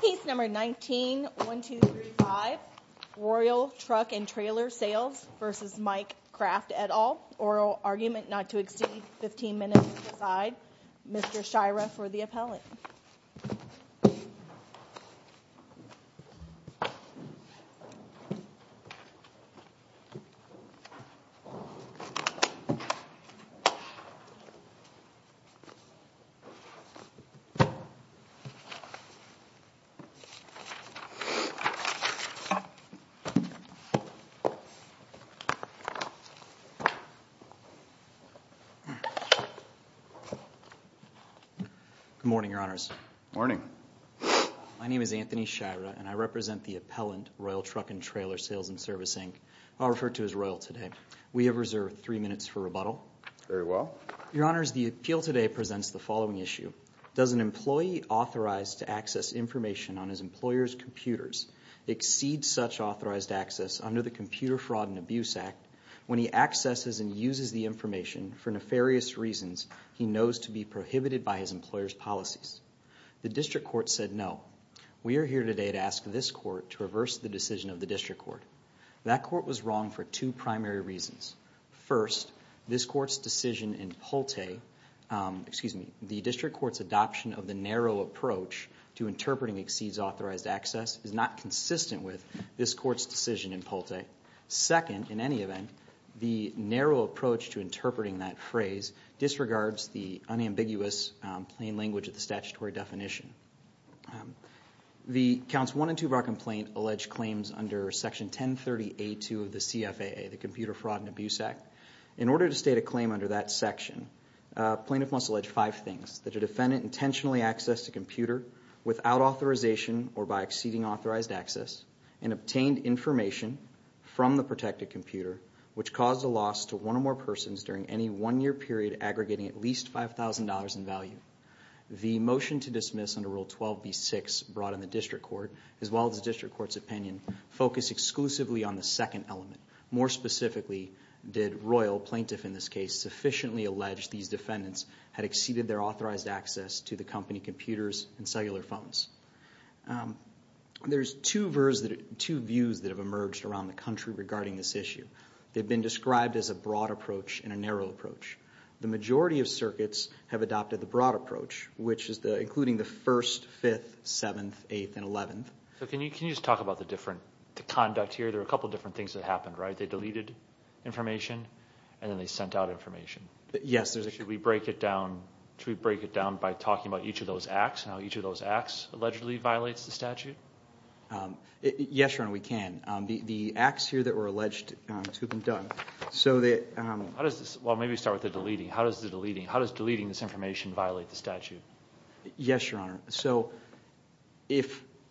P. 19-1235 Royal Truck & Trailer Sales v. Mike Kraft, et al. Oral argument not to exceed 15 minutes to decide. Mr. Shira for the appellant. Good morning, Your Honors. Morning. My name is Anthony Shira and I represent the appellant, Royal Truck & Trailer Sales & Service, Inc. I'll refer to as Royal today. We have reserved three minutes for rebuttal. Very well. Your Honors, the appeal today presents the following issue. Does an employee authorized to access information on his employer's computers exceed such authorized access under the Computer Fraud and Abuse Act when he accesses and uses the information for nefarious reasons he knows to be prohibited by his employer's policies? The district court said no. We are here today to ask this court to reverse the decision of the district court. That court was wrong for two primary reasons. First, this court's decision in Polte, excuse me, the district court's adoption of the narrow approach to interpreting exceeds authorized access is not consistent with this court's decision in Polte. Second, in any event, the narrow approach to interpreting that phrase disregards the unambiguous plain language of the statutory definition. The counts one and two of our complaint allege claims under section 1030A2 of the CFAA, the Computer Fraud and Abuse Act. In order to state a claim under that section, plaintiff must allege five things. That a defendant intentionally accessed a computer without authorization or by exceeding authorized access and obtained information from the protected computer, which caused a loss to one or more persons during any one year period aggregating at least $5,000 in value. The motion to dismiss under Rule 12B6 brought in the district court, as well as the district court's opinion, focused exclusively on the second element. More specifically, did Royal, plaintiff in this case, sufficiently allege these defendants had exceeded their authorized access to the company computers and cellular phones? There's two views that have emerged around the country regarding this issue. They've been described as a broad approach and a narrow approach. The majority of circuits have adopted the broad approach, which is including the 1st, 5th, 7th, 8th, and 11th. Can you just talk about the conduct here? There are a couple of different things that happened, right? They deleted information and then they sent out information. Yes. Should we break it down by talking about each of those acts and how each of those acts allegedly violates the statute? Yes, Your Honor, we can. The acts here that were alleged to have been done. Maybe we start with the deleting. How does deleting this information violate the statute? Yes, Your Honor.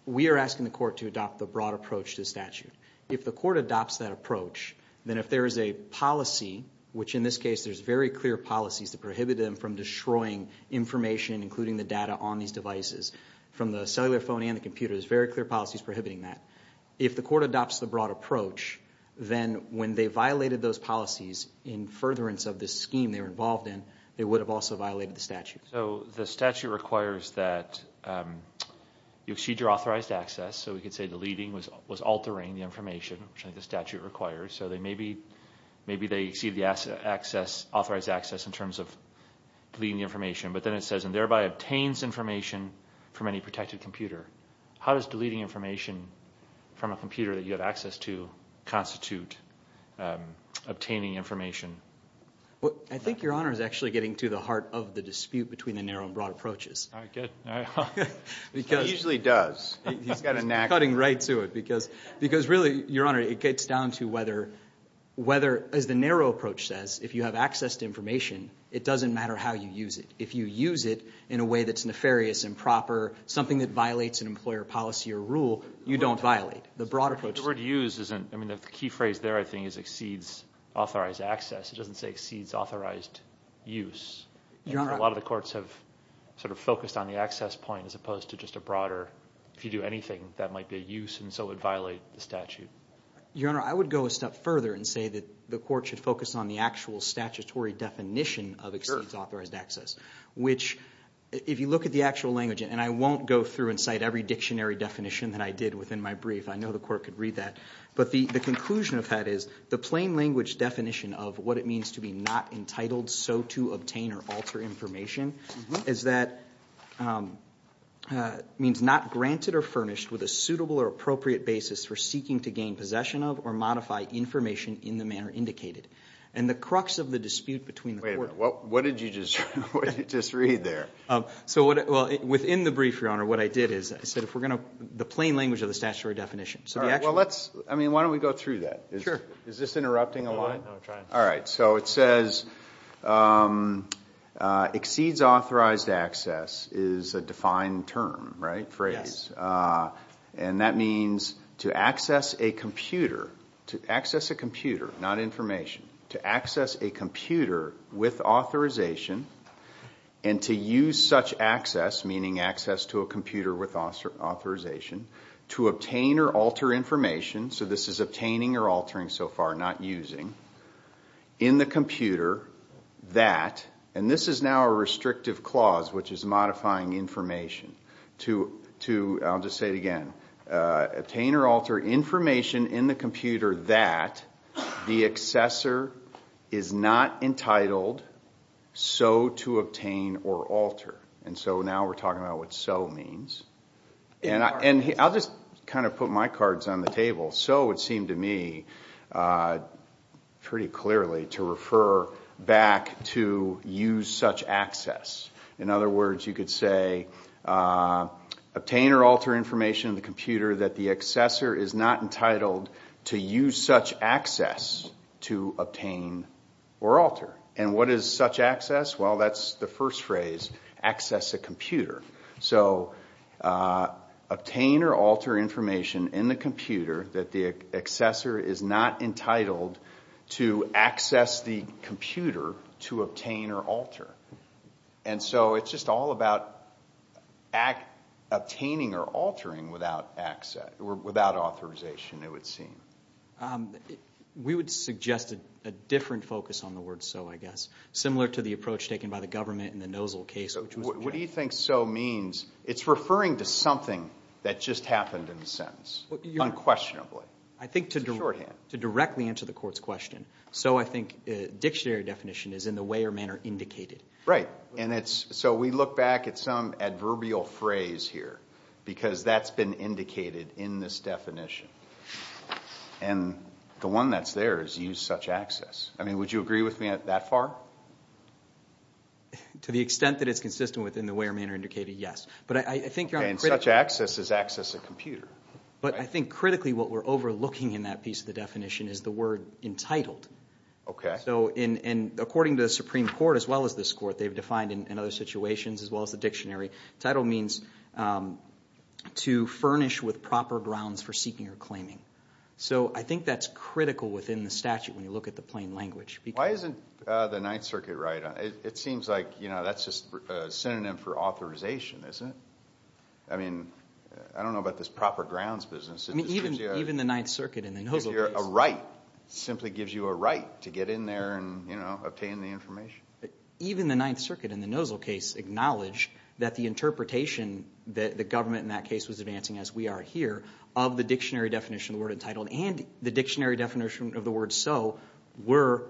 We are asking the court to adopt the broad approach to the statute. If the court adopts that approach, then if there is a policy, which in this case there's very clear policies that prohibit them from destroying information, including the data on these devices from the cellular phone and the computers, there's very clear policies prohibiting that. If the court adopts the broad approach, then when they violated those policies in furtherance of this scheme they were involved in, they would have also violated the statute. So the statute requires that you exceed your authorized access. So we could say deleting was altering the information, which I think the statute requires. So maybe they exceed the authorized access in terms of deleting the information. But then it says, and thereby obtains information from any protected computer. How does deleting information from a computer that you have access to constitute obtaining information? I think Your Honor is actually getting to the heart of the dispute between the narrow and broad approaches. All right, good. It usually does. He's got a knack for it. He's cutting right to it. Because really, Your Honor, it gets down to whether, as the narrow approach says, if you have access to information, it doesn't matter how you use it. If you use it in a way that's nefarious, improper, something that violates an employer policy or rule, you don't violate the broad approach. But the word use isn't the key phrase there, I think, is exceeds authorized access. It doesn't say exceeds authorized use. A lot of the courts have sort of focused on the access point as opposed to just a broader, if you do anything, that might be a use and so would violate the statute. Your Honor, I would go a step further and say that the court should focus on the actual statutory definition of exceeds authorized access, which if you look at the actual language, and I won't go through and cite every dictionary definition that I did within my brief. I know the court could read that. But the conclusion of that is the plain language definition of what it means to be not entitled so to obtain or alter information is that it means not granted or furnished with a suitable or appropriate basis for seeking to gain possession of or modify information in the manner indicated. And the crux of the dispute between the court. Wait a minute. What did you just read there? So within the brief, Your Honor, what I did is I said if we're going to, the plain language of the statutory definition. All right. Well, let's, I mean, why don't we go through that? Sure. Is this interrupting a line? No, I'm trying. All right. So it says exceeds authorized access is a defined term, right, phrase. Yes. And that means to access a computer, to access a computer, not information, to access a computer with authorization and to use such access, meaning access to a computer with authorization, to obtain or alter information, so this is obtaining or altering so far, not using, in the computer that, and this is now a restrictive clause which is modifying information, to, I'll just say it again, obtain or alter information in the computer that the accessor is not entitled so to obtain or alter. And so now we're talking about what so means. And I'll just kind of put my cards on the table. So it seemed to me pretty clearly to refer back to use such access. In other words, you could say obtain or alter information in the computer that the accessor is not entitled to use such access to obtain or alter. And what is such access? Well, that's the first phrase, access a computer. So obtain or alter information in the computer that the accessor is not entitled to access the computer to obtain or alter. And so it's just all about obtaining or altering without authorization, it would seem. We would suggest a different focus on the word so, I guess, similar to the approach taken by the government in the Nozell case. What do you think so means? It's referring to something that just happened in the sentence, unquestionably. I think to directly answer the court's question, so I think dictionary definition is in the way or manner indicated. Right. And so we look back at some adverbial phrase here because that's been indicated in this definition. And the one that's there is use such access. I mean, would you agree with me that far? To the extent that it's consistent with in the way or manner indicated, yes. But I think you're on the critical side. Okay, and such access is access a computer. But I think critically what we're overlooking in that piece of the definition is the word entitled. Okay. So according to the Supreme Court as well as this court, they've defined in other situations as well as the dictionary, title means to furnish with proper grounds for seeking or claiming. So I think that's critical within the statute when you look at the plain language. Why isn't the Ninth Circuit right? It seems like that's just a synonym for authorization, isn't it? I mean, I don't know about this proper grounds business. Even the Ninth Circuit in the Nozzle case. A right. It simply gives you a right to get in there and, you know, obtain the information. Even the Ninth Circuit in the Nozzle case acknowledged that the interpretation that the government in that case was advancing as we are here of the dictionary definition of the word entitled and the dictionary definition of the word so were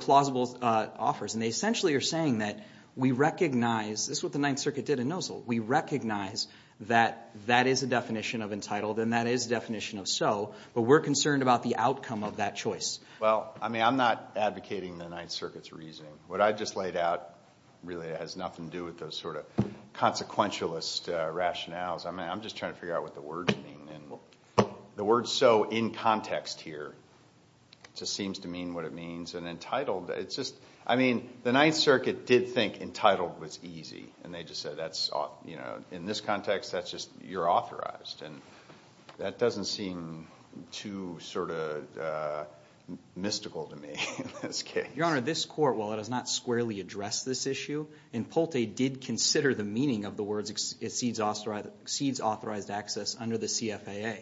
plausible offers. And they essentially are saying that we recognize this is what the Ninth Circuit did in Nozzle. We recognize that that is a definition of entitled and that is a definition of so, but we're concerned about the outcome of that choice. Well, I mean, I'm not advocating the Ninth Circuit's reasoning. What I just laid out really has nothing to do with those sort of consequentialist rationales. I'm just trying to figure out what the words mean, and the word so in context here just seems to mean what it means. And entitled, it's just, I mean, the Ninth Circuit did think entitled was easy, and they just said that's, you know, in this context that's just you're authorized. And that doesn't seem too sort of mystical to me in this case. Your Honor, this court, while it has not squarely addressed this issue, in Polte did consider the meaning of the words exceeds authorized access under the CFAA.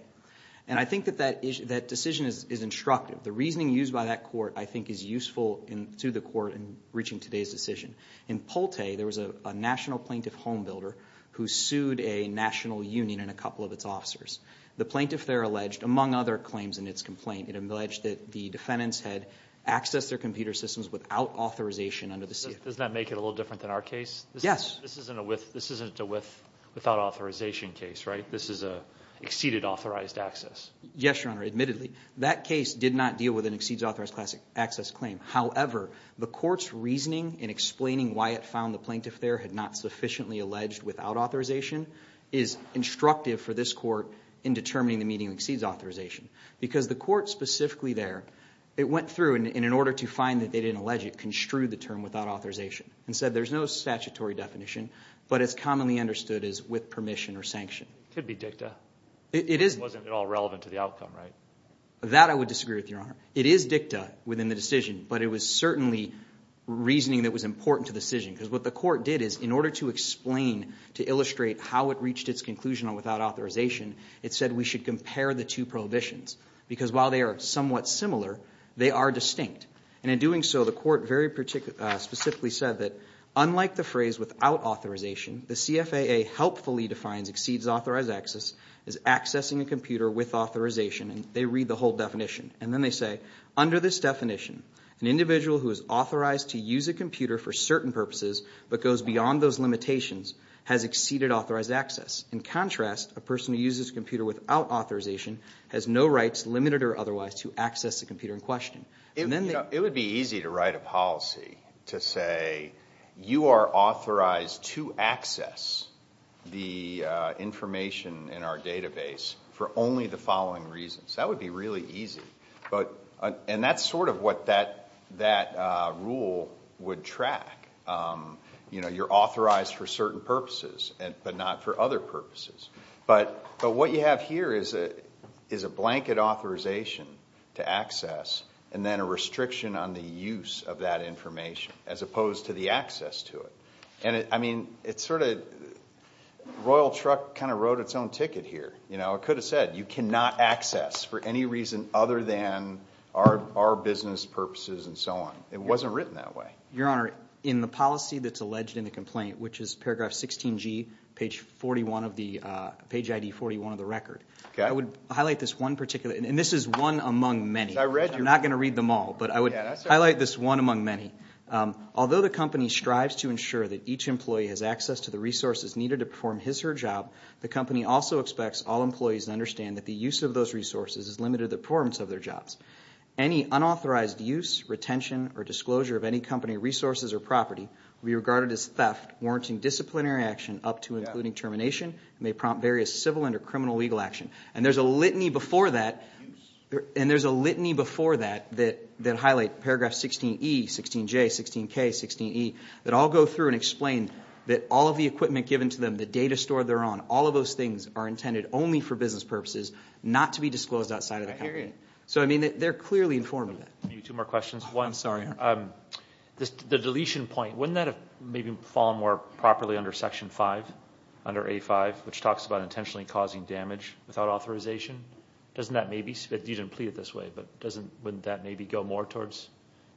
And I think that that decision is instructive. The reasoning used by that court I think is useful to the court in reaching today's decision. In Polte, there was a national plaintiff home builder who sued a national union and a couple of its officers. The plaintiff there alleged, among other claims in its complaint, it alleged that the defendants had accessed their computer systems without authorization under the CFAA. Does that make it a little different than our case? Yes. This isn't a without authorization case, right? This is an exceeded authorized access. Yes, Your Honor, admittedly. That case did not deal with an exceeds authorized access claim. However, the court's reasoning in explaining why it found the plaintiff there had not sufficiently alleged without authorization is instructive for this court in determining the meaning of exceeds authorization. Because the court specifically there, it went through, and in order to find that they didn't allege it, construed the term without authorization and said there's no statutory definition, but it's commonly understood as with permission or sanction. It could be dicta. It is. It wasn't at all relevant to the outcome, right? That I would disagree with, Your Honor. It is dicta within the decision, but it was certainly reasoning that was important to the decision. Because what the court did is in order to explain, to illustrate how it reached its conclusion on without authorization, it said we should compare the two prohibitions. Because while they are somewhat similar, they are distinct. And in doing so, the court very specifically said that unlike the phrase without authorization, the CFAA helpfully defines exceeds authorized access as accessing a computer with authorization. And they read the whole definition. And then they say under this definition, an individual who is authorized to use a computer for certain purposes but goes beyond those limitations has exceeded authorized access. In contrast, a person who uses a computer without authorization has no rights, limited or otherwise, to access a computer in question. It would be easy to write a policy to say you are authorized to access the information in our database for only the following reasons. That would be really easy. And that's sort of what that rule would track. You know, you're authorized for certain purposes but not for other purposes. But what you have here is a blanket authorization to access and then a restriction on the use of that information as opposed to the access to it. And, I mean, it's sort of Royal Truck kind of wrote its own ticket here. You know, it could have said you cannot access for any reason other than our business purposes and so on. It wasn't written that way. Your Honor, in the policy that's alleged in the complaint, which is paragraph 16G, page 41 of the record, I would highlight this one particular, and this is one among many. I'm not going to read them all, but I would highlight this one among many. Although the company strives to ensure that each employee has access to the resources needed to perform his or her job, the company also expects all employees to understand that the use of those resources is limited to the performance of their jobs. Any unauthorized use, retention, or disclosure of any company resources or property will be regarded as theft, warranting disciplinary action up to and including termination, and may prompt various civil and criminal legal action. And there's a litany before that that highlight paragraph 16E, 16J, 16K, 16E, that all go through and explain that all of the equipment given to them, the data store they're on, all of those things are intended only for business purposes, not to be disclosed outside of the company. So, I mean, they're clearly informed of that. Maybe two more questions. One. I'm sorry, Your Honor. The deletion point, wouldn't that have maybe fallen more properly under Section 5, under A5, which talks about intentionally causing damage without authorization? Doesn't that maybe? You didn't plead it this way, but wouldn't that maybe go more towards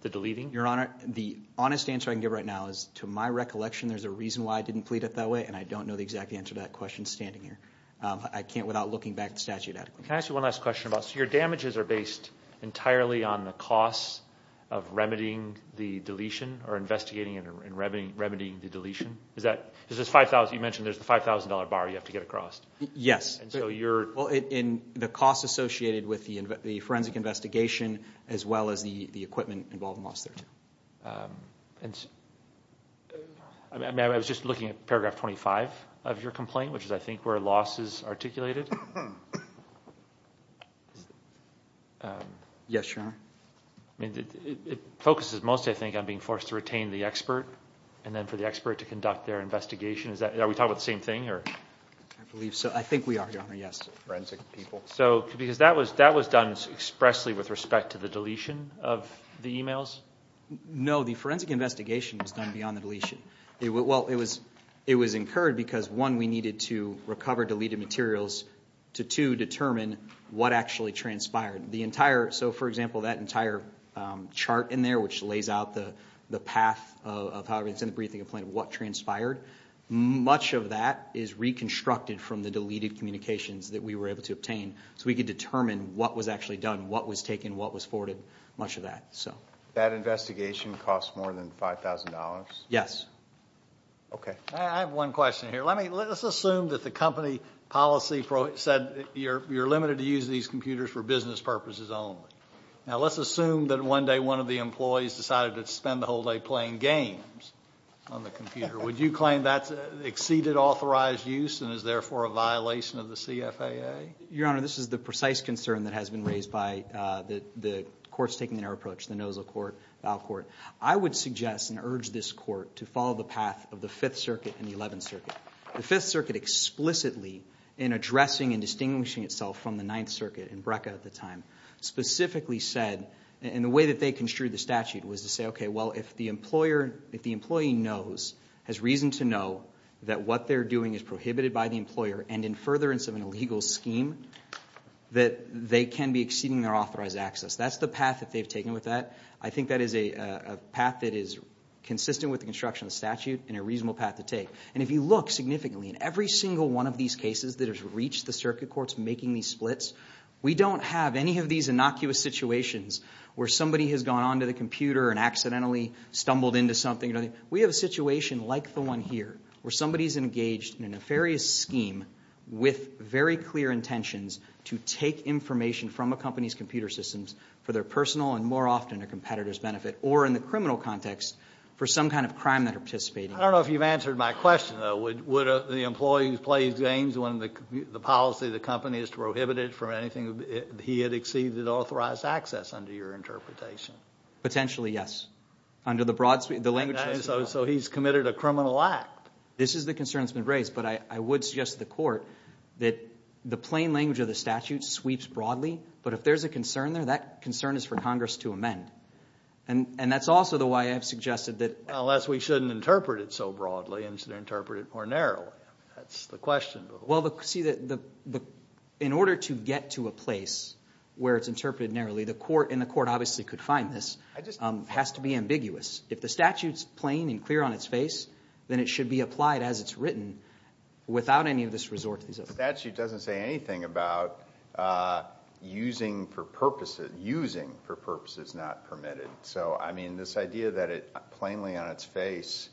the deleting? Your Honor, the honest answer I can give right now is to my recollection there's a reason why I didn't plead it that way, and I don't know the exact answer to that question standing here. I can't without looking back at the statute adequately. Can I ask you one last question about, so your damages are based entirely on the costs of remedying the deletion or investigating and remedying the deletion? You mentioned there's the $5,000 bar you have to get across. Yes. And so you're? Well, the costs associated with the forensic investigation as well as the equipment involved in Loss 32. I was just looking at paragraph 25 of your complaint, which is, I think, where loss is articulated. Yes, Your Honor. It focuses mostly, I think, on being forced to retain the expert and then for the expert to conduct their investigation. Are we talking about the same thing? I believe so. I think we are, Your Honor, yes. Forensic people. Because that was done expressly with respect to the deletion of the emails? No, the forensic investigation was done beyond the deletion. Well, it was incurred because, one, we needed to recover deleted materials to, two, determine what actually transpired. So, for example, that entire chart in there, which lays out the path of how it was in the briefing complaint, what transpired, much of that is reconstructed from the deleted communications that we were able to obtain so we could determine what was actually done, what was taken, what was forwarded, much of that. That investigation cost more than $5,000? Yes. Okay. I have one question here. Let's assume that the company policy said you're limited to use these computers for business purposes only. Now, let's assume that one day one of the employees decided to spend the whole day playing games on the computer. Would you claim that's exceeded authorized use and is, therefore, a violation of the CFAA? Your Honor, this is the precise concern that has been raised by the courts taking their approach, the Nosal Court, Val Court. I would suggest and urge this court to follow the path of the Fifth Circuit and the Eleventh Circuit. The Fifth Circuit explicitly, in addressing and distinguishing itself from the Ninth Circuit and BRCA at the time, specifically said, in the way that they construed the statute, was to say, okay, well, if the employer, if the employee knows, has reason to know, that what they're doing is prohibited by the employer and in furtherance of an illegal scheme, that they can be exceeding their authorized access. That's the path that they've taken with that. I think that is a path that is consistent with the construction of the statute and a reasonable path to take. And if you look significantly, in every single one of these cases that has reached the circuit courts making these splits, we don't have any of these innocuous situations where somebody has gone onto the computer and accidentally stumbled into something. We have a situation like the one here where somebody is engaged in a nefarious scheme with very clear intentions to take information from a company's computer systems for their personal and more often a competitor's benefit, or in the criminal context, for some kind of crime that they're participating in. I don't know if you've answered my question, though. Would the employee who plays games when the policy of the company is to prohibit it from anything, he had exceeded authorized access under your interpretation? Potentially, yes. Under the broad, the language. So he's committed a criminal act. This is the concern that's been raised. But I would suggest to the Court that the plain language of the statute sweeps broadly, but if there's a concern there, that concern is for Congress to amend. And that's also the way I've suggested that. Unless we shouldn't interpret it so broadly and should interpret it more narrowly. That's the question. Well, see, in order to get to a place where it's interpreted narrowly, and the Court obviously could find this, has to be ambiguous. If the statute's plain and clear on its face, then it should be applied as it's written without any of this resort to the statute. The statute doesn't say anything about using for purposes not permitted. So, I mean, this idea that it plainly on its face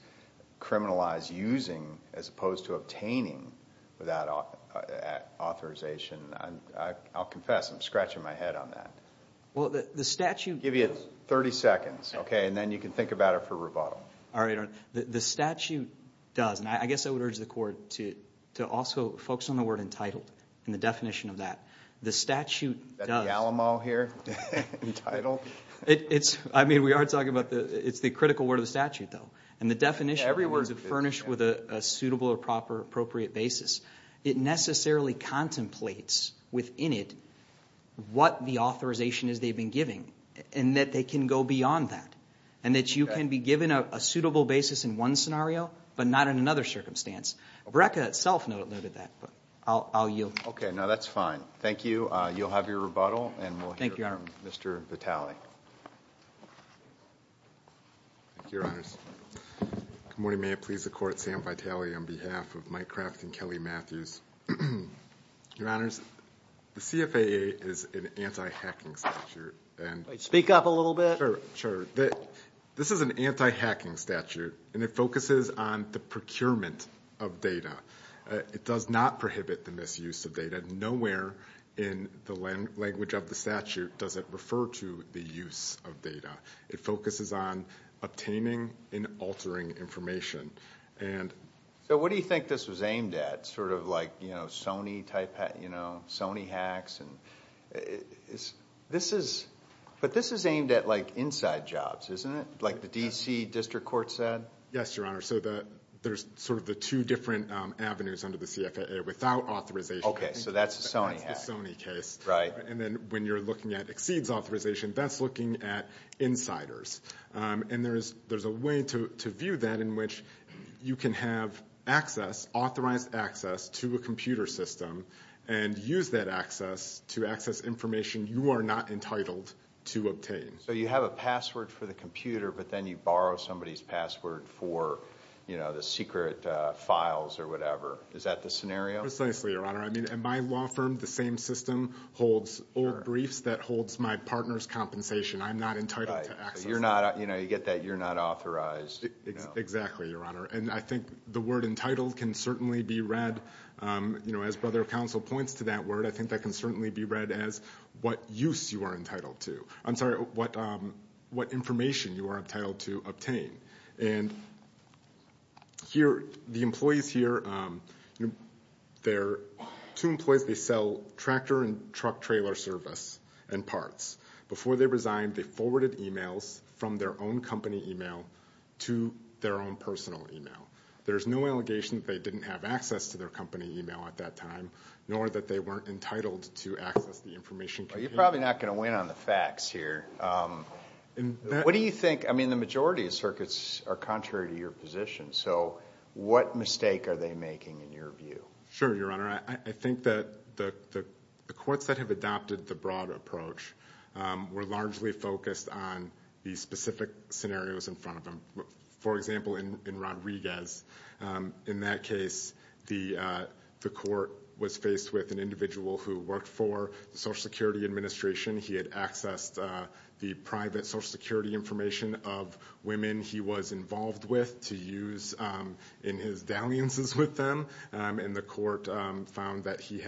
criminalized using as opposed to obtaining without authorization, I'll confess I'm scratching my head on that. Well, the statute does. I'll give you 30 seconds, okay, and then you can think about it for rebuttal. The statute does, and I guess I would urge the Court to also focus on the word entitled and the definition of that. The statute does. Is that the Alamo here? Entitled? It's, I mean, we are talking about the, it's the critical word of the statute, though. And the definition, every word is furnished with a suitable or proper, appropriate basis. It necessarily contemplates within it what the authorization is they've been giving, and that they can go beyond that, and that you can be given a suitable basis in one scenario, but not in another circumstance. BRCA itself noted that, but I'll yield. Okay, no, that's fine. Thank you. You'll have your rebuttal, and we'll hear Mr. Vitale. Thank you, Your Honors. Good morning. May it please the Court, Sam Vitale on behalf of Mike Kraft and Kelly Matthews. Your Honors, the CFAA is an anti-hacking statute. Speak up a little bit. Sure, sure. This is an anti-hacking statute, and it focuses on the procurement of data. It does not prohibit the misuse of data. Nowhere in the language of the statute does it refer to the use of data. It focuses on obtaining and altering information. So what do you think this was aimed at? Sort of like, you know, Sony hacks? But this is aimed at, like, inside jobs, isn't it? Like the D.C. District Court said? Yes, Your Honor. So there's sort of the two different avenues under the CFAA without authorization. Okay, so that's the Sony hack. That's the Sony case. And then when you're looking at exceeds authorization, that's looking at insiders. And there's a way to view that in which you can have access, authorized access to a computer system and use that access to access information you are not entitled to obtain. So you have a password for the computer, but then you borrow somebody's password for, you know, the secret files or whatever. Is that the scenario? Precisely, Your Honor. I mean, at my law firm, the same system holds old briefs that holds my partner's compensation. I'm not entitled to access that. You're not, you know, you get that you're not authorized. Exactly, Your Honor. And I think the word entitled can certainly be read, you know, as Brother of Counsel points to that word, I think that can certainly be read as what use you are entitled to. I'm sorry, what information you are entitled to obtain. And here, the employees here, they're two employees. They sell tractor and truck trailer service and parts. Before they resigned, they forwarded e-mails from their own company e-mail to their own personal e-mail. There's no allegation that they didn't have access to their company e-mail at that time, nor that they weren't entitled to access the information. You're probably not going to win on the facts here. What do you think? I mean, the majority of circuits are contrary to your position. So what mistake are they making in your view? Sure, Your Honor. I think that the courts that have adopted the broad approach were largely focused on the specific scenarios in front of them. For example, in Rodriguez, in that case, the court was faced with an individual who worked for the Social Security Administration. He had accessed the private Social Security information of women he was involved with to use in his dalliances with them. And the court found that he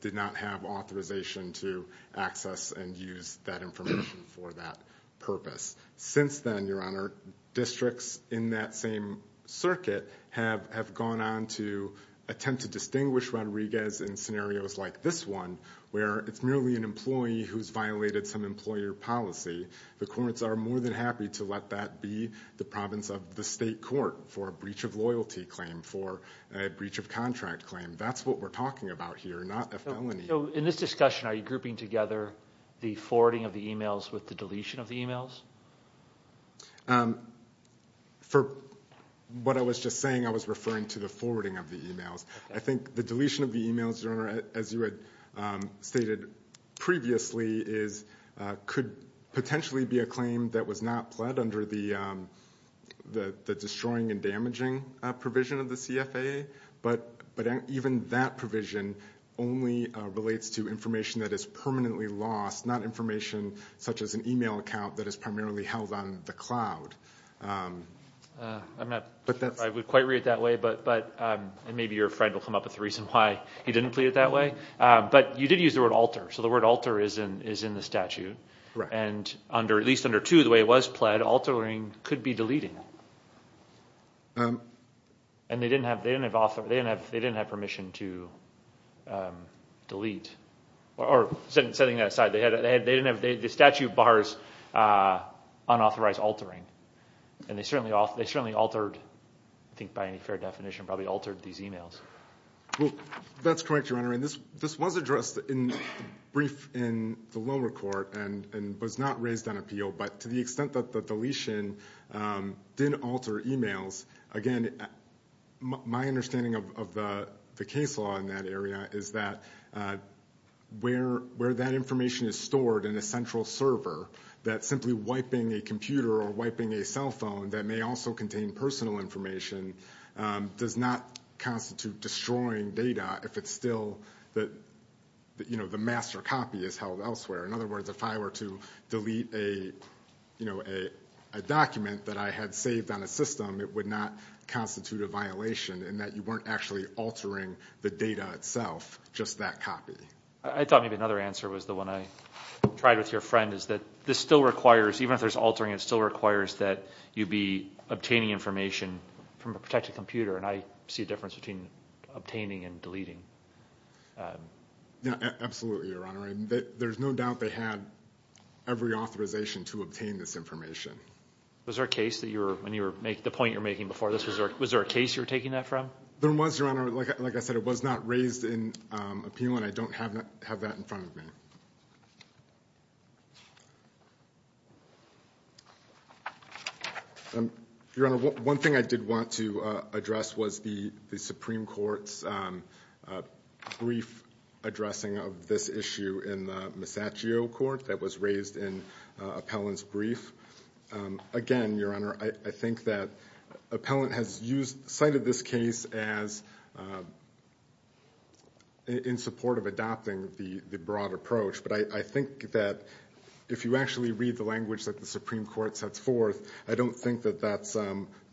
did not have authorization to access and use that information for that purpose. Since then, Your Honor, districts in that same circuit have gone on to attempt to distinguish Rodriguez in scenarios like this one, where it's merely an employee who's violated some employer policy. The courts are more than happy to let that be the province of the state court for a breach of loyalty claim, for a breach of contract claim. That's what we're talking about here, not a felony. So in this discussion, are you grouping together the forwarding of the e-mails with the deletion of the e-mails? For what I was just saying, I was referring to the forwarding of the e-mails. I think the deletion of the e-mails, Your Honor, as you had stated previously, could potentially be a claim that was not pled under the destroying and damaging provision of the CFA. But even that provision only relates to information that is permanently lost, not information such as an e-mail account that is primarily held on the cloud. I would quite read it that way, and maybe your friend will come up with a reason why he didn't read it that way. But you did use the word alter, so the word alter is in the statute. And at least under 2, the way it was pled, altering could be deleting. And they didn't have permission to delete. Setting that aside, the statute bars unauthorized altering. And they certainly altered, I think by any fair definition, probably altered these e-mails. That's correct, Your Honor. And this was addressed in brief in the lower court and was not raised on appeal. But to the extent that the deletion didn't alter e-mails, again, my understanding of the case law in that area is that where that information is stored in a central server, that simply wiping a computer or wiping a cell phone that may also contain personal information does not constitute destroying data if it's still the master copy is held elsewhere. In other words, if I were to delete a document that I had saved on a system, it would not constitute a violation in that you weren't actually altering the data itself, just that copy. I thought maybe another answer was the one I tried with your friend is that this still requires, even if there's altering, it still requires that you be obtaining information from a protected computer. Yeah, absolutely, Your Honor. There's no doubt they had every authorization to obtain this information. Was there a case that you were, when you were making, the point you were making before this, was there a case you were taking that from? There was, Your Honor. Like I said, it was not raised in appeal and I don't have that in front of me. Your Honor, one thing I did want to address was the Supreme Court's brief addressing of this issue in the Masaccio Court that was raised in Appellant's brief. Again, Your Honor, I think that Appellant has cited this case as in support of adopting the broad approach, but I think that if you actually read the language that the Supreme Court sets forth, I don't think that that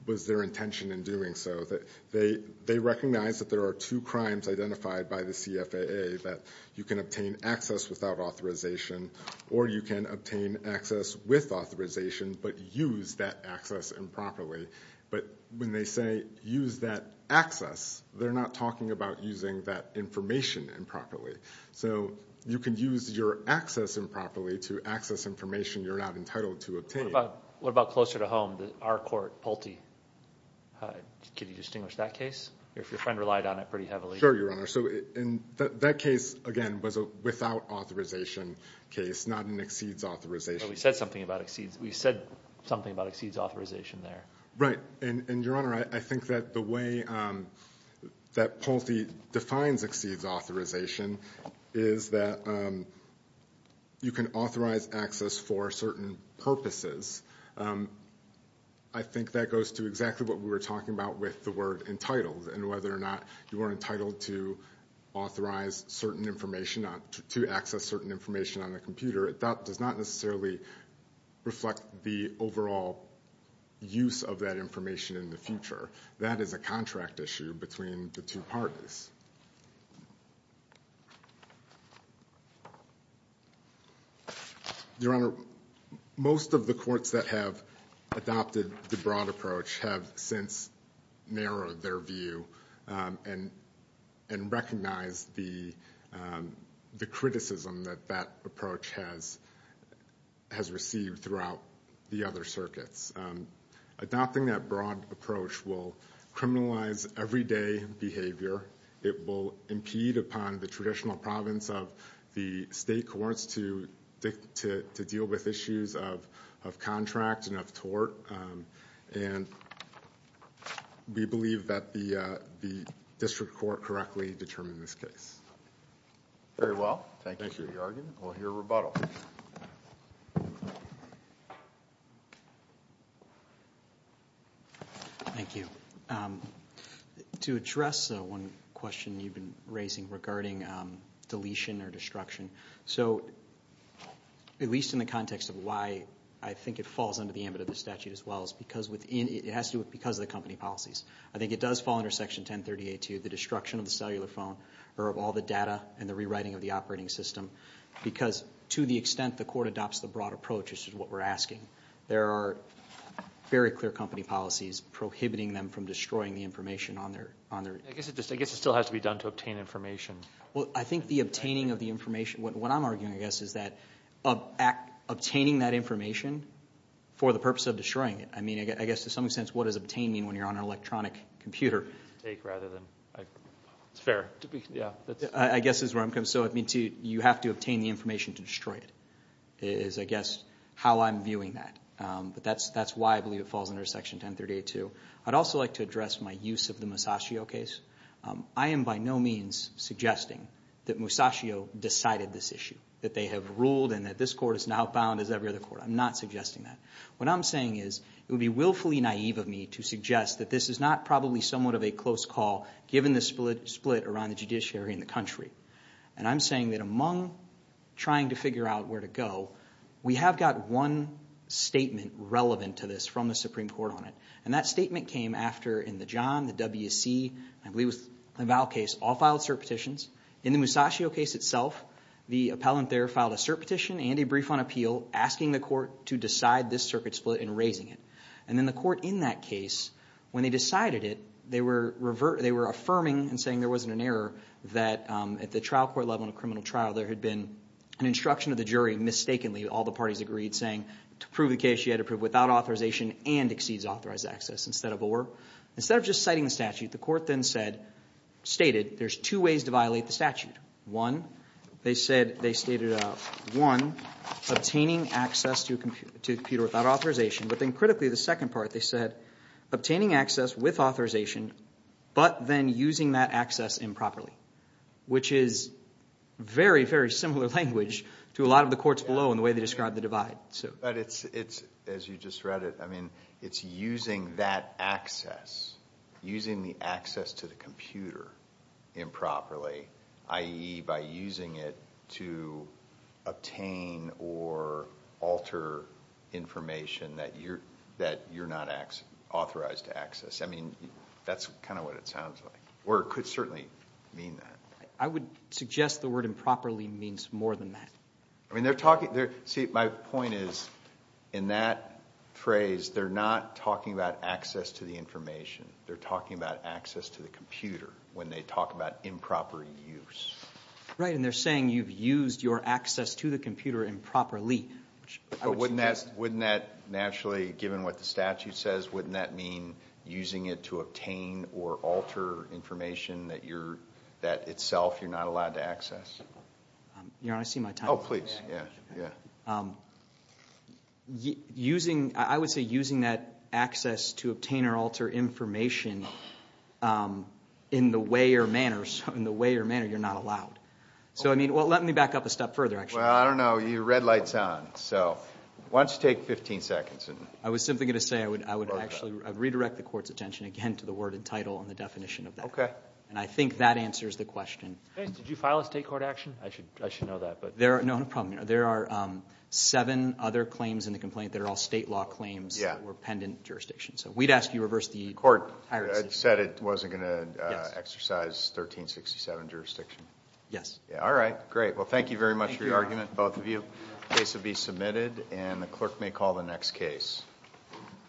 was their intention in doing so. They recognize that there are two crimes identified by the CFAA, that you can obtain access without authorization or you can obtain access with authorization, but use that access improperly. But when they say use that access, they're not talking about using that information improperly. So you can use your access improperly to access information you're not entitled to obtain. What about closer to home, our court, Pulte? Could you distinguish that case? Your friend relied on it pretty heavily. Sure, Your Honor. So that case, again, was a without authorization case, not an exceeds authorization. We said something about exceeds authorization there. Right. And, Your Honor, I think that the way that Pulte defines exceeds authorization is that you can authorize access for certain purposes. I think that goes to exactly what we were talking about with the word entitled and whether or not you are entitled to authorize certain information to access certain information on a computer. That does not necessarily reflect the overall use of that information in the future. That is a contract issue between the two parties. Your Honor, most of the courts that have adopted the broad approach have since narrowed their view and recognized the criticism that that approach has received throughout the other circuits. Adopting that broad approach will criminalize everyday behavior. It will impede upon the traditional province of the state courts to deal with issues of contract and of tort. And we believe that the district court correctly determined this case. Very well. Thank you for your argument. We'll hear rebuttal. Thank you. To address one question you've been raising regarding deletion or destruction, so at least in the context of why I think it falls under the ambit of the statute as well, it has to do with because of the company policies. I think it does fall under Section 1038-2, the destruction of the cellular phone, or of all the data and the rewriting of the operating system, because to the extent the court adopts the broad approach, which is what we're asking, there are very clear company policies prohibiting them from destroying the information on their... I guess it still has to be done to obtain information. Well, I think the obtaining of the information, what I'm arguing, I guess, is that obtaining that information for the purpose of destroying it. I mean, I guess to some extent what does obtain mean when you're on an electronic computer? Take rather than... It's fair. I guess that's where I'm coming. So you have to obtain the information to destroy it is, I guess, how I'm viewing that. But that's why I believe it falls under Section 1038-2. I'd also like to address my use of the Masaccio case. I am by no means suggesting that Masaccio decided this issue, that they have ruled and that this court is now bound as every other court. I'm not suggesting that. What I'm saying is it would be willfully naive of me to suggest that this is not probably somewhat of a close call given the split around the judiciary in the country. And I'm saying that among trying to figure out where to go, we have got one statement relevant to this from the Supreme Court on it, and that statement came after in the John, the WSC, I believe it was the Val case, all filed cert petitions. In the Masaccio case itself, the appellant there filed a cert petition and a brief on appeal asking the court to decide this circuit split and raising it. And then the court in that case, when they decided it, they were affirming and saying there wasn't an error that at the trial court level in a criminal trial there had been an instruction of the jury mistakenly, all the parties agreed, saying to prove the case you had to prove without authorization and exceeds authorized access instead of or. Instead of just citing the statute, the court then said, stated there's two ways to violate the statute. One, they said, they stated one, obtaining access to a computer without authorization, but then critically the second part they said obtaining access with authorization but then using that access improperly, which is very, very similar language to a lot of the courts below in the way they described the divide. But it's, as you just read it, I mean it's using that access, using the access to the computer improperly, i.e. by using it to obtain or alter information that you're not authorized to access. I mean that's kind of what it sounds like. Or it could certainly mean that. I would suggest the word improperly means more than that. I mean they're talking, see my point is in that phrase they're not talking about access to the information. They're talking about access to the computer when they talk about improper use. Right, and they're saying you've used your access to the computer improperly. But wouldn't that naturally, given what the statute says, wouldn't that mean using it to obtain or alter information that itself you're not allowed to access? You want to see my time? Oh, please. I would say using that access to obtain or alter information in the way or manner you're not allowed. So I mean, well let me back up a step further actually. Well, I don't know, your red light's on. So why don't you take 15 seconds. I was simply going to say I would actually redirect the court's attention again to the word and title and the definition of that. Okay. And I think that answers the question. Did you file a state court action? I should know that. No, no problem. There are seven other claims in the complaint that are all state law claims that were pendent jurisdictions. So we'd ask you to reverse the court hierarchy. The court said it wasn't going to exercise 1367 jurisdiction. Yes. All right, great. Well, thank you very much for your argument, both of you. The case will be submitted, and the clerk may call the next case.